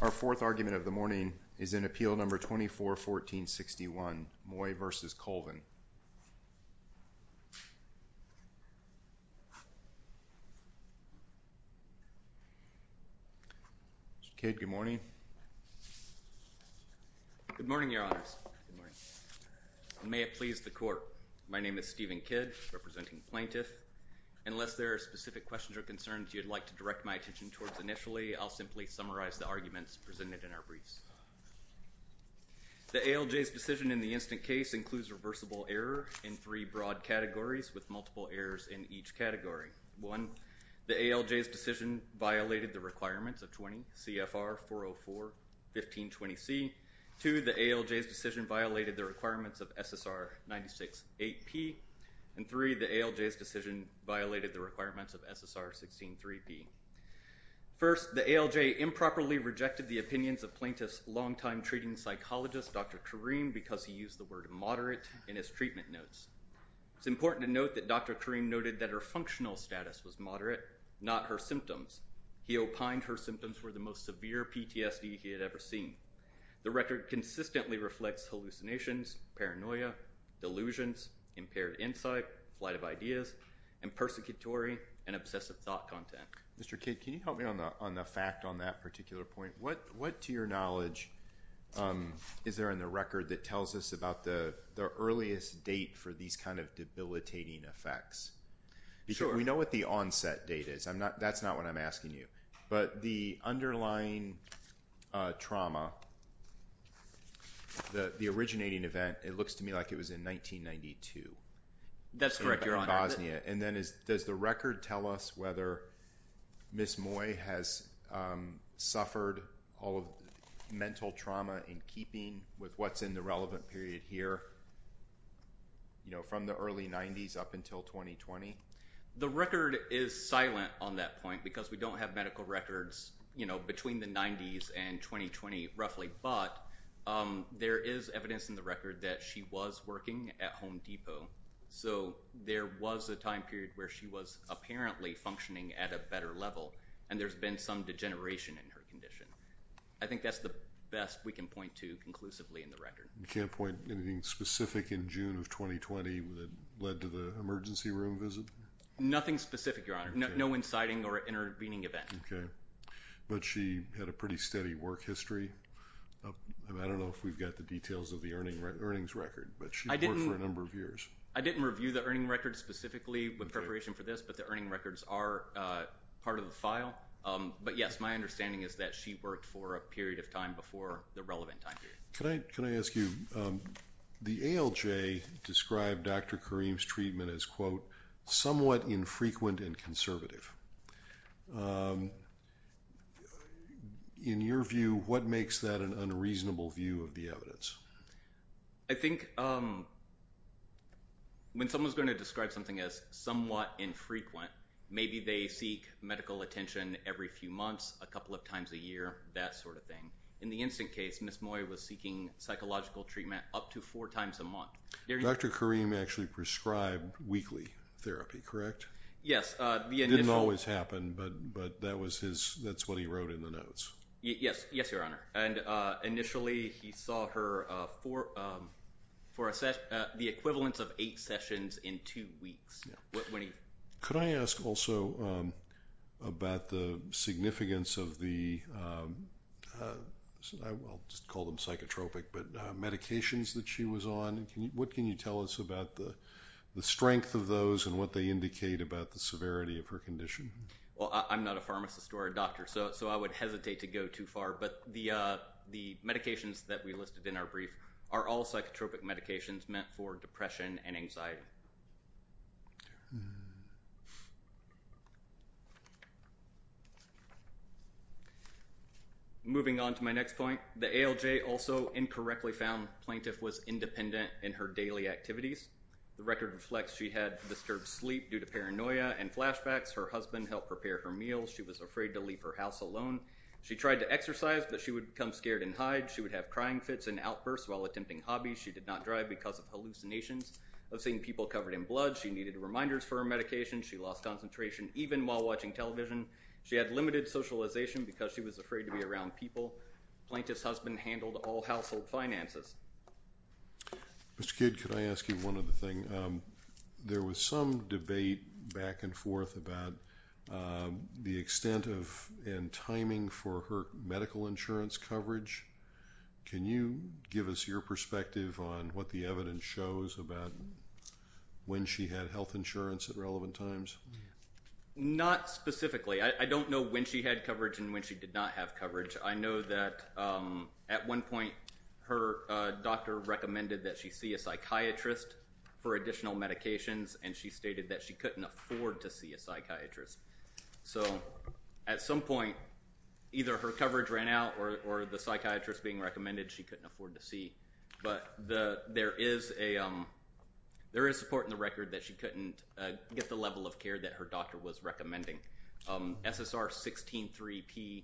Our fourth argument of the morning is in Appeal No. 24-14-61, Moy v. Colvin. Mr. Cade, good morning. Good morning, Your Honors. May it please the Court. My name is Stephen Kidd, representing Plaintiff. Unless there are specific questions or concerns you'd like to direct my attention towards initially, I'll simply summarize the arguments presented in our briefs. The ALJ's decision in the instant case includes reversible error in three broad categories with multiple errors in each category. One, the ALJ's decision violated the requirements of 20 CFR 404-1520C. Two, the ALJ's decision violated the requirements of SSR 96-8P. And three, the ALJ's decision violated the requirements of SSR 16-3P. First, the ALJ improperly rejected the opinions of Plaintiff's longtime treating psychologist, Dr. Kareem, because he used the word moderate in his treatment notes. It's important to note that Dr. Kareem noted that her functional status was moderate, not her symptoms. He opined her symptoms were the most severe PTSD he had ever seen. The record consistently reflects hallucinations, paranoia, delusions, impaired insight, flight of ideas, and persecutory and obsessive thought content. Mr. Cade, can you help me on the fact on that particular point? What, to your knowledge, is there in the record that tells us about the earliest date for these kind of debilitating effects? Because we know what the onset date is. I'm not, that's not what I'm asking you. But the underlying trauma, the originating event, it looks to me like it was in 1992. That's correct, Your Honor. In Bosnia. And then does the record tell us whether Ms. Moy has suffered all of the mental trauma in keeping with what's in the relevant period here, you know, from the early 90s up until 2020? The record is silent on that point because we don't have medical records, you know, between the 90s and 2020 roughly. But there is evidence in the record that she was working at Home Depot. So there was a time period where she was apparently functioning at a better level and there's been some degeneration in her condition. I think that's the best we can point to conclusively in the record. You can't point to anything specific in June of 2020 that led to the emergency room visit? Nothing specific, Your Honor. No inciting or intervening event. Okay. But she had a pretty steady work history. I don't know if we've got the details of the earnings record, but she worked for a number of years. I didn't review the earnings record specifically with preparation for this, but the earnings records are part of the file. But yes, my understanding is that she worked for a period of time before the relevant time period. Can I ask you, the ALJ described Dr. Kareem's treatment as, quote, somewhat infrequent and conservative. In your view, what makes that an unreasonable view of the evidence? I think when someone's going to describe something as somewhat infrequent, maybe they seek medical attention every few months, a couple of times a year, that sort of thing. In the instant case, Ms. Moy was seeking psychological treatment up to four times a month. Dr. Kareem actually prescribed weekly therapy, correct? Yes. It didn't always happen, but that's what he wrote in the notes. Yes, Your Honor. And initially, he saw her for the equivalence of eight sessions in two weeks. Could I ask also about the significance of the, I'll just call them psychotropic, but medications that she was on? What can you tell us about the strength of those and what they indicate about the severity of her condition? Well, I'm not a pharmacist or a doctor, so I would hesitate to go too far. But the medications that we listed in our brief are all psychotropic medications meant for depression and anxiety. Moving on to my next point, the ALJ also incorrectly found the plaintiff was independent in her daily activities. The record reflects she had disturbed sleep due to paranoia and flashbacks. Her husband helped prepare her meals. She was afraid to leave her house alone. She tried to exercise, but she would become scared and hide. She would have crying fits and outbursts while attempting hobbies. She did not drive because of hallucinations of seeing people covered in blood. She needed reminders for her medication. She lost concentration even while watching television. She had limited socialization because she was afraid to be around people. Plaintiff's husband handled all household finances. Mr. Kidd, could I ask you one other thing? There was some debate back and forth about the extent and timing for her medical insurance coverage. Can you give us your perspective on what the evidence shows about when she had health insurance at relevant times? Not specifically. I don't know when she had coverage and when she did not have coverage. I know that at one point, her doctor recommended that she see a psychiatrist for additional medications and she stated that she couldn't afford to see a psychiatrist. At some point, either her coverage ran out or the psychiatrist being recommended she couldn't afford to see. There is support in the record that she couldn't get the level of care that her doctor was recommending. SSR 16-3P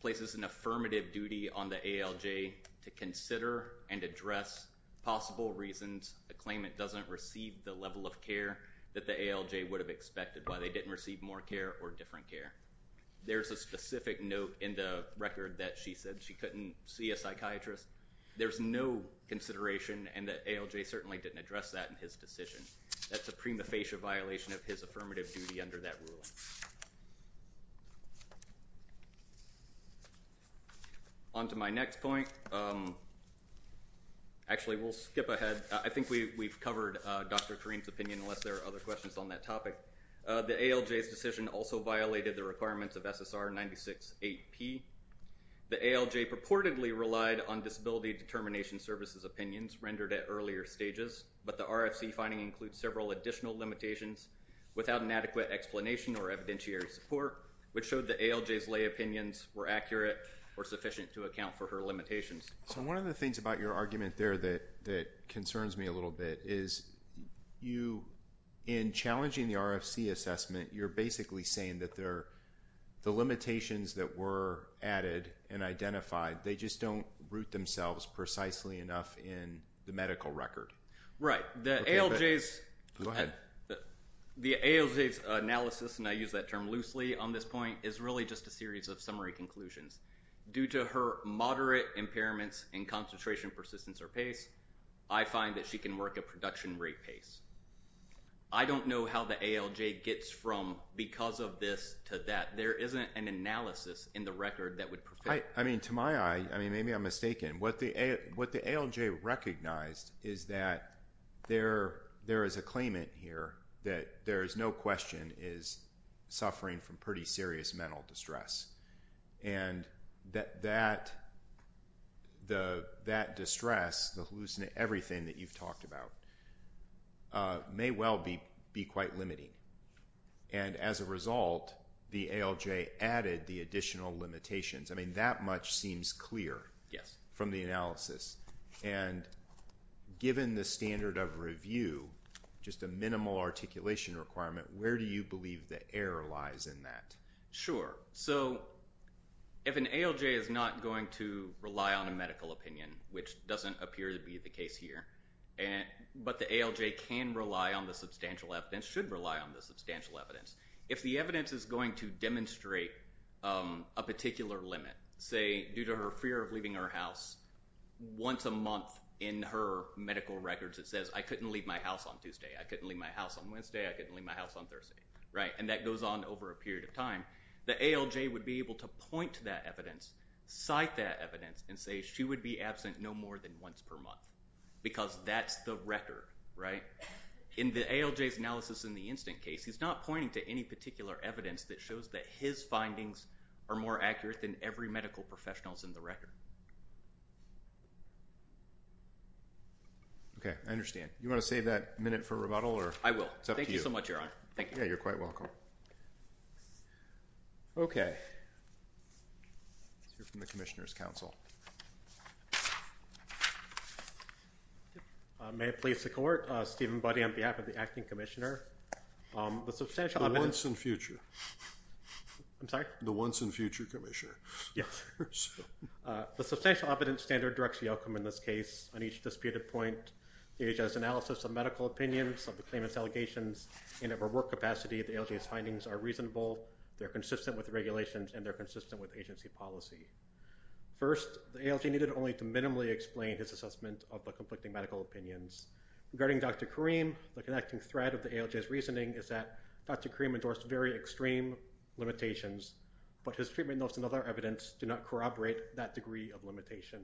places an affirmative duty on the ALJ to consider and address possible reasons to claim it doesn't receive the level of care that the ALJ would have expected why they didn't receive more care or different care. There's a specific note in the record that she said she couldn't see a psychiatrist. There's no consideration and the ALJ certainly didn't address that in his decision. That's a prima facie violation of his affirmative duty under that ruling. Onto my next point. Actually, we'll skip ahead. I think we've covered Dr. Kareem's opinion unless there are other questions on that topic. The ALJ's decision also violated the requirements of SSR 96-8P. The ALJ purportedly relied on Disability Determination Services opinions rendered at earlier stages, but the RFC finding includes several additional limitations without an adequate explanation or evidentiary support, which showed the ALJ's lay opinions were accurate or sufficient to account for her limitations. So one of the things about your argument there that concerns me a little bit is you, in challenging the RFC assessment, you're basically saying that the limitations that were added and identified, they just don't root themselves precisely enough in the medical record. Right. The ALJ's analysis, and I use that term loosely on this point, is really just a series of summary conclusions. Due to her moderate impairments in concentration, persistence, or pace, I find that she can work a production rate pace. I don't know how the ALJ gets from because of this to that. There isn't an analysis in the record that would prove that. To my eye, maybe I'm mistaken, what the ALJ recognized is that there is a claimant here that there is no question is suffering from pretty serious mental distress. That distress, the hallucinate, everything that you've talked about, may well be quite limiting. As a result, the ALJ added the additional limitations. I mean, that much seems clear from the analysis. Given the standard of review, just a minimal articulation requirement, where do you believe the error lies in that? Sure. If an ALJ is not going to rely on a medical opinion, which doesn't appear to be the case here, but the ALJ can rely on the substantial evidence, should rely on the substantial evidence, if the evidence is going to demonstrate a particular limit, say due to her fear of leaving her house once a month in her medical records that says, I couldn't leave my house on Tuesday, I couldn't leave my house on Wednesday, I couldn't leave my house on Thursday, and that goes on over a period of time, the ALJ would be able to point to that evidence, cite that evidence, and say she would be absent no more than once per month because that's the record, right? In the ALJ's analysis in the instant case, he's not pointing to any particular evidence that shows that his findings are more accurate than every medical professional's in the record. Okay. I understand. You want to save that minute for rebuttal or? I will. Thank you so much, Your Honor. Thank you. Yeah, you're quite welcome. Okay. Let's hear from the Commissioner's Counsel. May it please the Court? Stephen Buddy on behalf of the Acting Commissioner. The substantial evidence... The once and future. I'm sorry? The once and future Commissioner. Yeah. The substantial evidence standard directs the outcome in this case. On each disputed point, the ALJ's analysis of medical opinions of the claimant's allegations in a reworked capacity, the ALJ's findings are reasonable, they're consistent with regulations, and they're consistent with agency policy. First, the ALJ needed only to minimally explain his assessment of the conflicting medical opinions. Regarding Dr. Karim, the connecting thread of the ALJ's reasoning is that Dr. Karim endorsed very extreme limitations, but his treatment notes and other evidence do not corroborate that degree of limitation.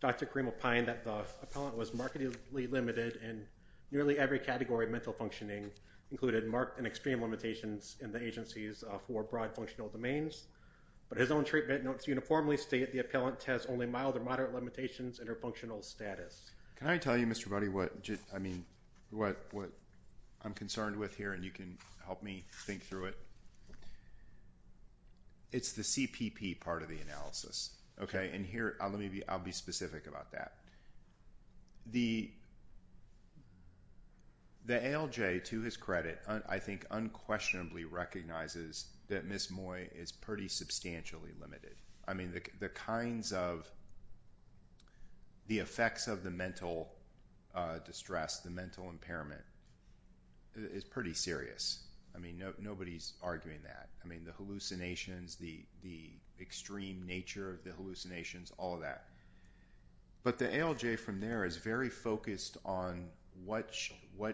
Dr. Karim opined that the appellant was markedly limited in nearly every category of mental functioning, included marked and extreme limitations in the agencies for broad functional domains, but his own treatment notes uniformly state the appellant has only mild or moderate limitations in her functional status. Can I tell you, Mr. Buddy, what I'm concerned with here, and you can help me think through it? It's the CPP part of the analysis. Okay? And here, I'll be specific about that. The appellant, I think, unquestionably recognizes that Ms. Moy is pretty substantially limited. I mean, the kinds of, the effects of the mental distress, the mental impairment, is pretty serious. I mean, nobody's arguing that. I mean, the hallucinations, the extreme nature of the hallucinations, all of that. But the ALJ from there is very focused on what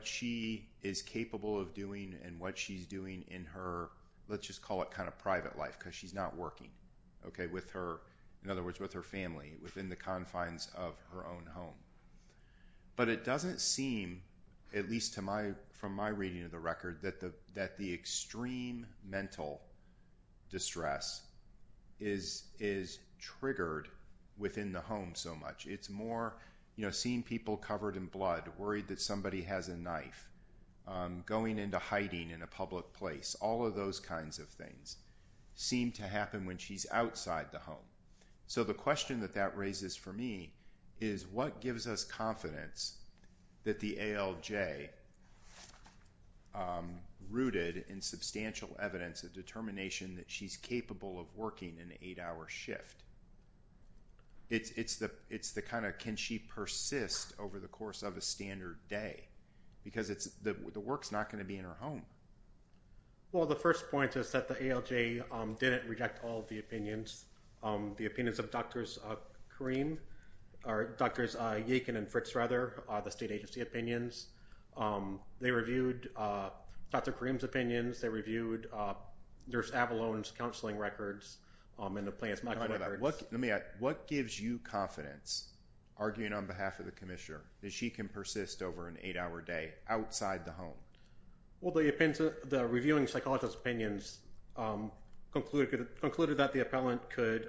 she is capable of doing and what she's doing in her, let's just call it kind of private life because she's not working, okay, with her, in other words, with her family within the confines of her own home. But it doesn't seem, at least from my reading of the record, that the extreme mental distress is triggered within the home so much. It's more, you know, seeing people covered in blood, worried that somebody has a knife, going into hiding in a public place, all of those kinds of things seem to happen when she's outside the home. So the question that that raises for me is what gives us confidence that the ALJ rooted in substantial evidence a determination that she's capable of working an eight-hour shift? It's the kind of, can she persist over the course of a standard day? Because the work's not going to be in her home. Well, the first point is that the ALJ didn't reject all of the opinions. The opinions of Drs. Karim, or Drs. Yakin and Fritz, rather, the state agency opinions. They reviewed Dr. Karim's opinions. They reviewed Nurse Avalon's counseling records and the plaintiff's maximum records. What gives you confidence, arguing on behalf of the commissioner, that she can persist over an eight-hour day outside the home? Well, the reviewing psychologist's opinions concluded that the appellant could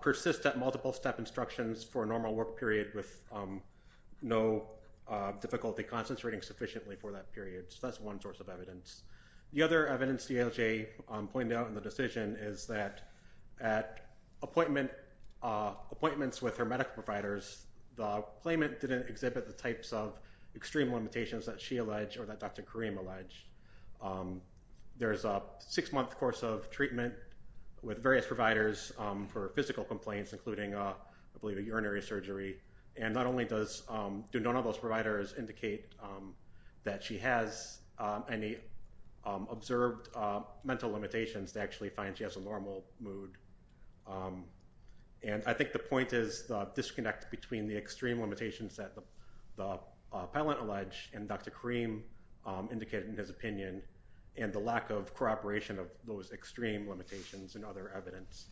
persist at multiple step instructions for a normal work period with no difficulty concentrating sufficiently for that period. So that's one source of evidence. The other evidence the ALJ pointed out in the decision is that at appointments with her medical providers, the claimant didn't exhibit the types of extreme limitations that she alleged or that Dr. Karim alleged. There's a six-month course of treatment with various providers for physical complaints, including, I believe, a urinary surgery. And not only do none of those providers indicate that she has any observed mental limitations, they actually find she has a normal mood. And I think the point is the disconnect between the extreme limitations that the appellant alleged and Dr. Karim indicated in his opinion, and the lack of cooperation of those extreme limitations and other evidence.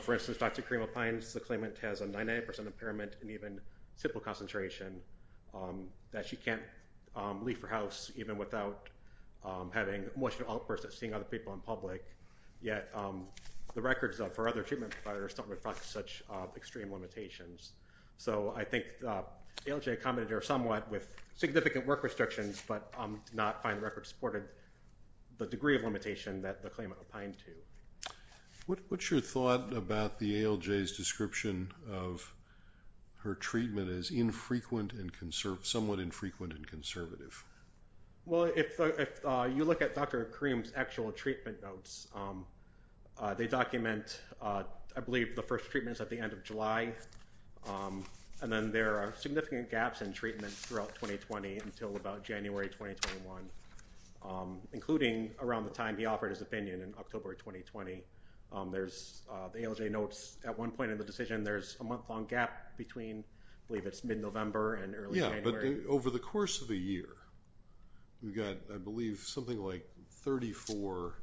For instance, Dr. Karim opines the claimant has a 99% impairment and even simple concentration that she can't leave her house even without having emotional outbursts or seeing other people in public. Yet the records for other treatment providers don't reflect such extreme limitations. So I think ALJ accommodated her somewhat with significant work restrictions, but did not find the record supported the degree of limitation that the claimant opined to. What's your thought about the ALJ's description of her treatment as infrequent and somewhat infrequent and conservative? Well, if you look at Dr. Karim's actual treatment notes, they document, I believe, the first treatments at the end of July. And then there are significant gaps in treatment throughout 2020 until about January 2021, including around the time he offered his opinion in October 2020. There's the ALJ notes at one point in the decision, there's a month-long gap between, I believe it's mid-November and early January. Yeah, but over the course of a year, we've got, I believe, something like 34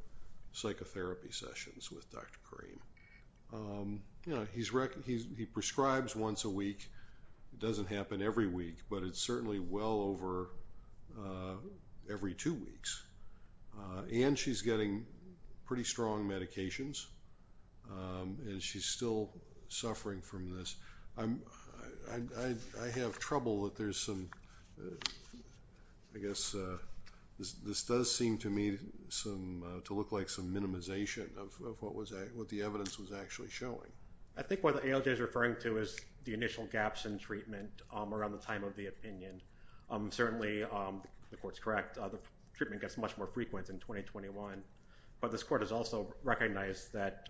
psychotherapy sessions with Dr. Karim. He prescribes once a week. It doesn't happen every week, but it's certainly well over every two weeks. And she's getting pretty strong medications and she's still suffering from this. I have trouble that there's some, I guess, this does seem to me to look like some minimization of what the evidence was actually showing. I think what the ALJ is referring to is the initial gaps in treatment around the time of the opinion. Certainly, the court's correct. The treatment gets much more frequent in 2021. But this court has also recognized that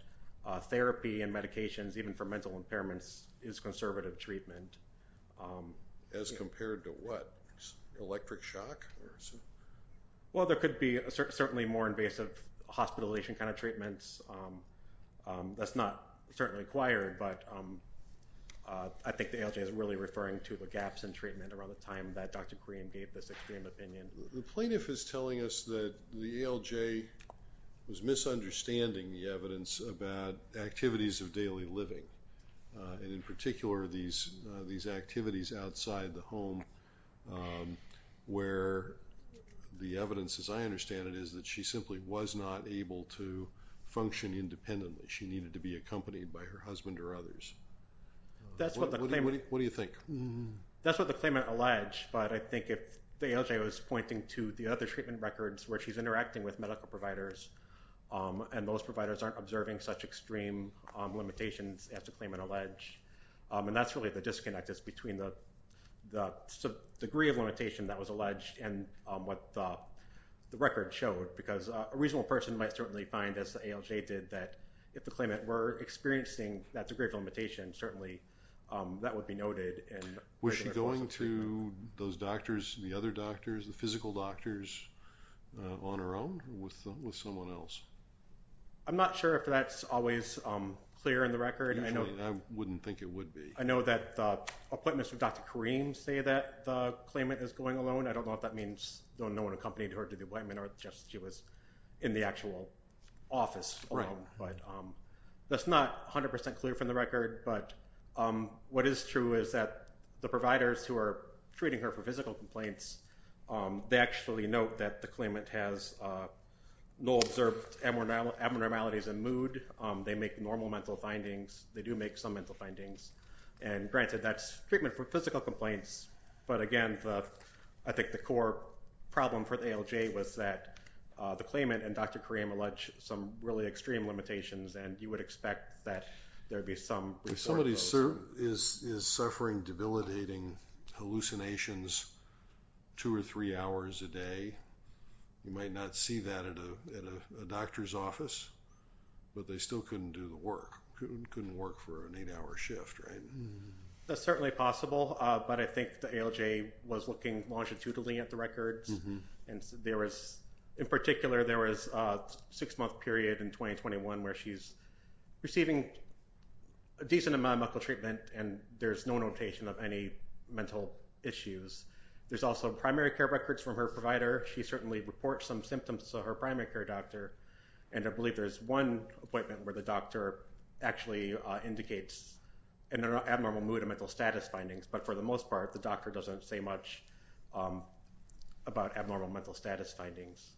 therapy and medications, even for mental impairments, is conservative treatment. As compared to what? Electric shock? Well, there could be certainly more invasive hospitalization kind of treatments. That's not certainly required, but I think the ALJ is really referring to the gaps in treatment around the time that Dr. Karim gave this extreme opinion. The plaintiff is telling us that the ALJ was misunderstanding the evidence about activities of daily living, and in particular, these activities outside the home where the evidence, as I understand it, is that she simply was not able to function independently. She needed to be accompanied by her husband or others. What do you think? That's what the claimant alleged, but I think if the ALJ was pointing to the other treatment records where she's interacting with medical providers, and those providers aren't observing such extreme limitations as the claimant alleged, and that's really the disconnect is between the degree of limitation that was alleged and what the record showed. Because a reasonable person might certainly find, as the ALJ did, that if the claimant were experiencing that degree of limitation, certainly that would be noted in the treatment. Was she going to those doctors, the other doctors, the physical doctors, on her own or with someone else? I'm not sure if that's always clear in the record. Usually, I wouldn't think it would be. I know that the appointments with Dr. Karim say that the claimant is going alone. I don't know if that means no one accompanied her to the appointment or just she was in the actual office alone. That's not 100% clear from the record, but what is true is that the providers who are treating her for physical complaints, they actually note that the claimant has no observed abnormalities in mood. They make normal mental findings. They do make some mental findings. And granted, that's treatment for physical complaints, but again, I think the core problem for the ALJ was that the claimant and Dr. Karim allege some really extreme limitations and you would expect that there would be some resort to those. If somebody is suffering debilitating hallucinations two or three hours a day, you might not see that at a doctor's office, but they still couldn't do the work, couldn't work for an eight-hour shift, right? That's certainly possible, but I think the ALJ was looking longitudinally at the records. In particular, there was a six-month period in 2021 where she's receiving a decent amount of medical treatment and there's no notation of any mental issues. There's also primary care records from her provider. She certainly reports some symptoms to her primary care doctor, and I believe there's one appointment where the doctor actually indicates an abnormal mood and mental status findings, but for the most part, the doctor doesn't say much about abnormal mental status findings.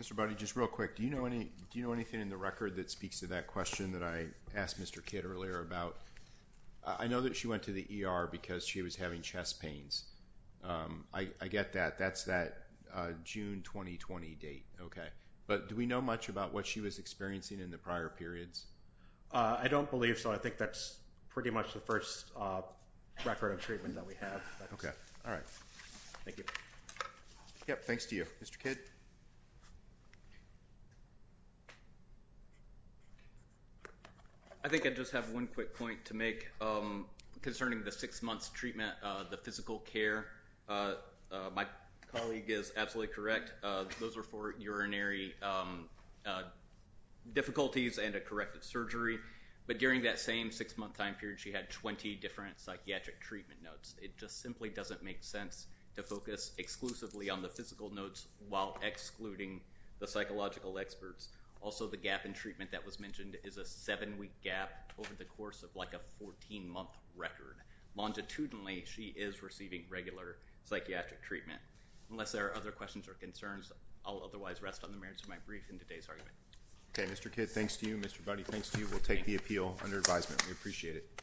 Mr. Budde, just real quick, do you know anything in the record that speaks to that question that I asked Mr. Kidd earlier about? I know that she went to the ER because she was having But do we know much about what she was experiencing in the prior periods? I don't believe so. I think that's pretty much the first record of treatment that we have. Okay, all right. Thank you. Yep, thanks to you. Mr. Kidd? I think I just have one quick point to make concerning the six-months treatment, the physical care. My colleague is absolutely correct. Those were for urinary difficulties and a corrective surgery, but during that same six-month time period, she had 20 different psychiatric treatment notes. It just simply doesn't make sense to focus exclusively on the physical notes while excluding the psychological experts. Also, the gap in treatment that was mentioned is a seven-week gap over the course of like a 14-month record. Longitudinally, she is receiving regular psychiatric treatment. Unless there are other questions or concerns, I'll otherwise rest on the merits of my brief in today's argument. Okay, Mr. Kidd, thanks to you. Mr. Budde, thanks to you. We'll take the appeal under advisement. We appreciate it.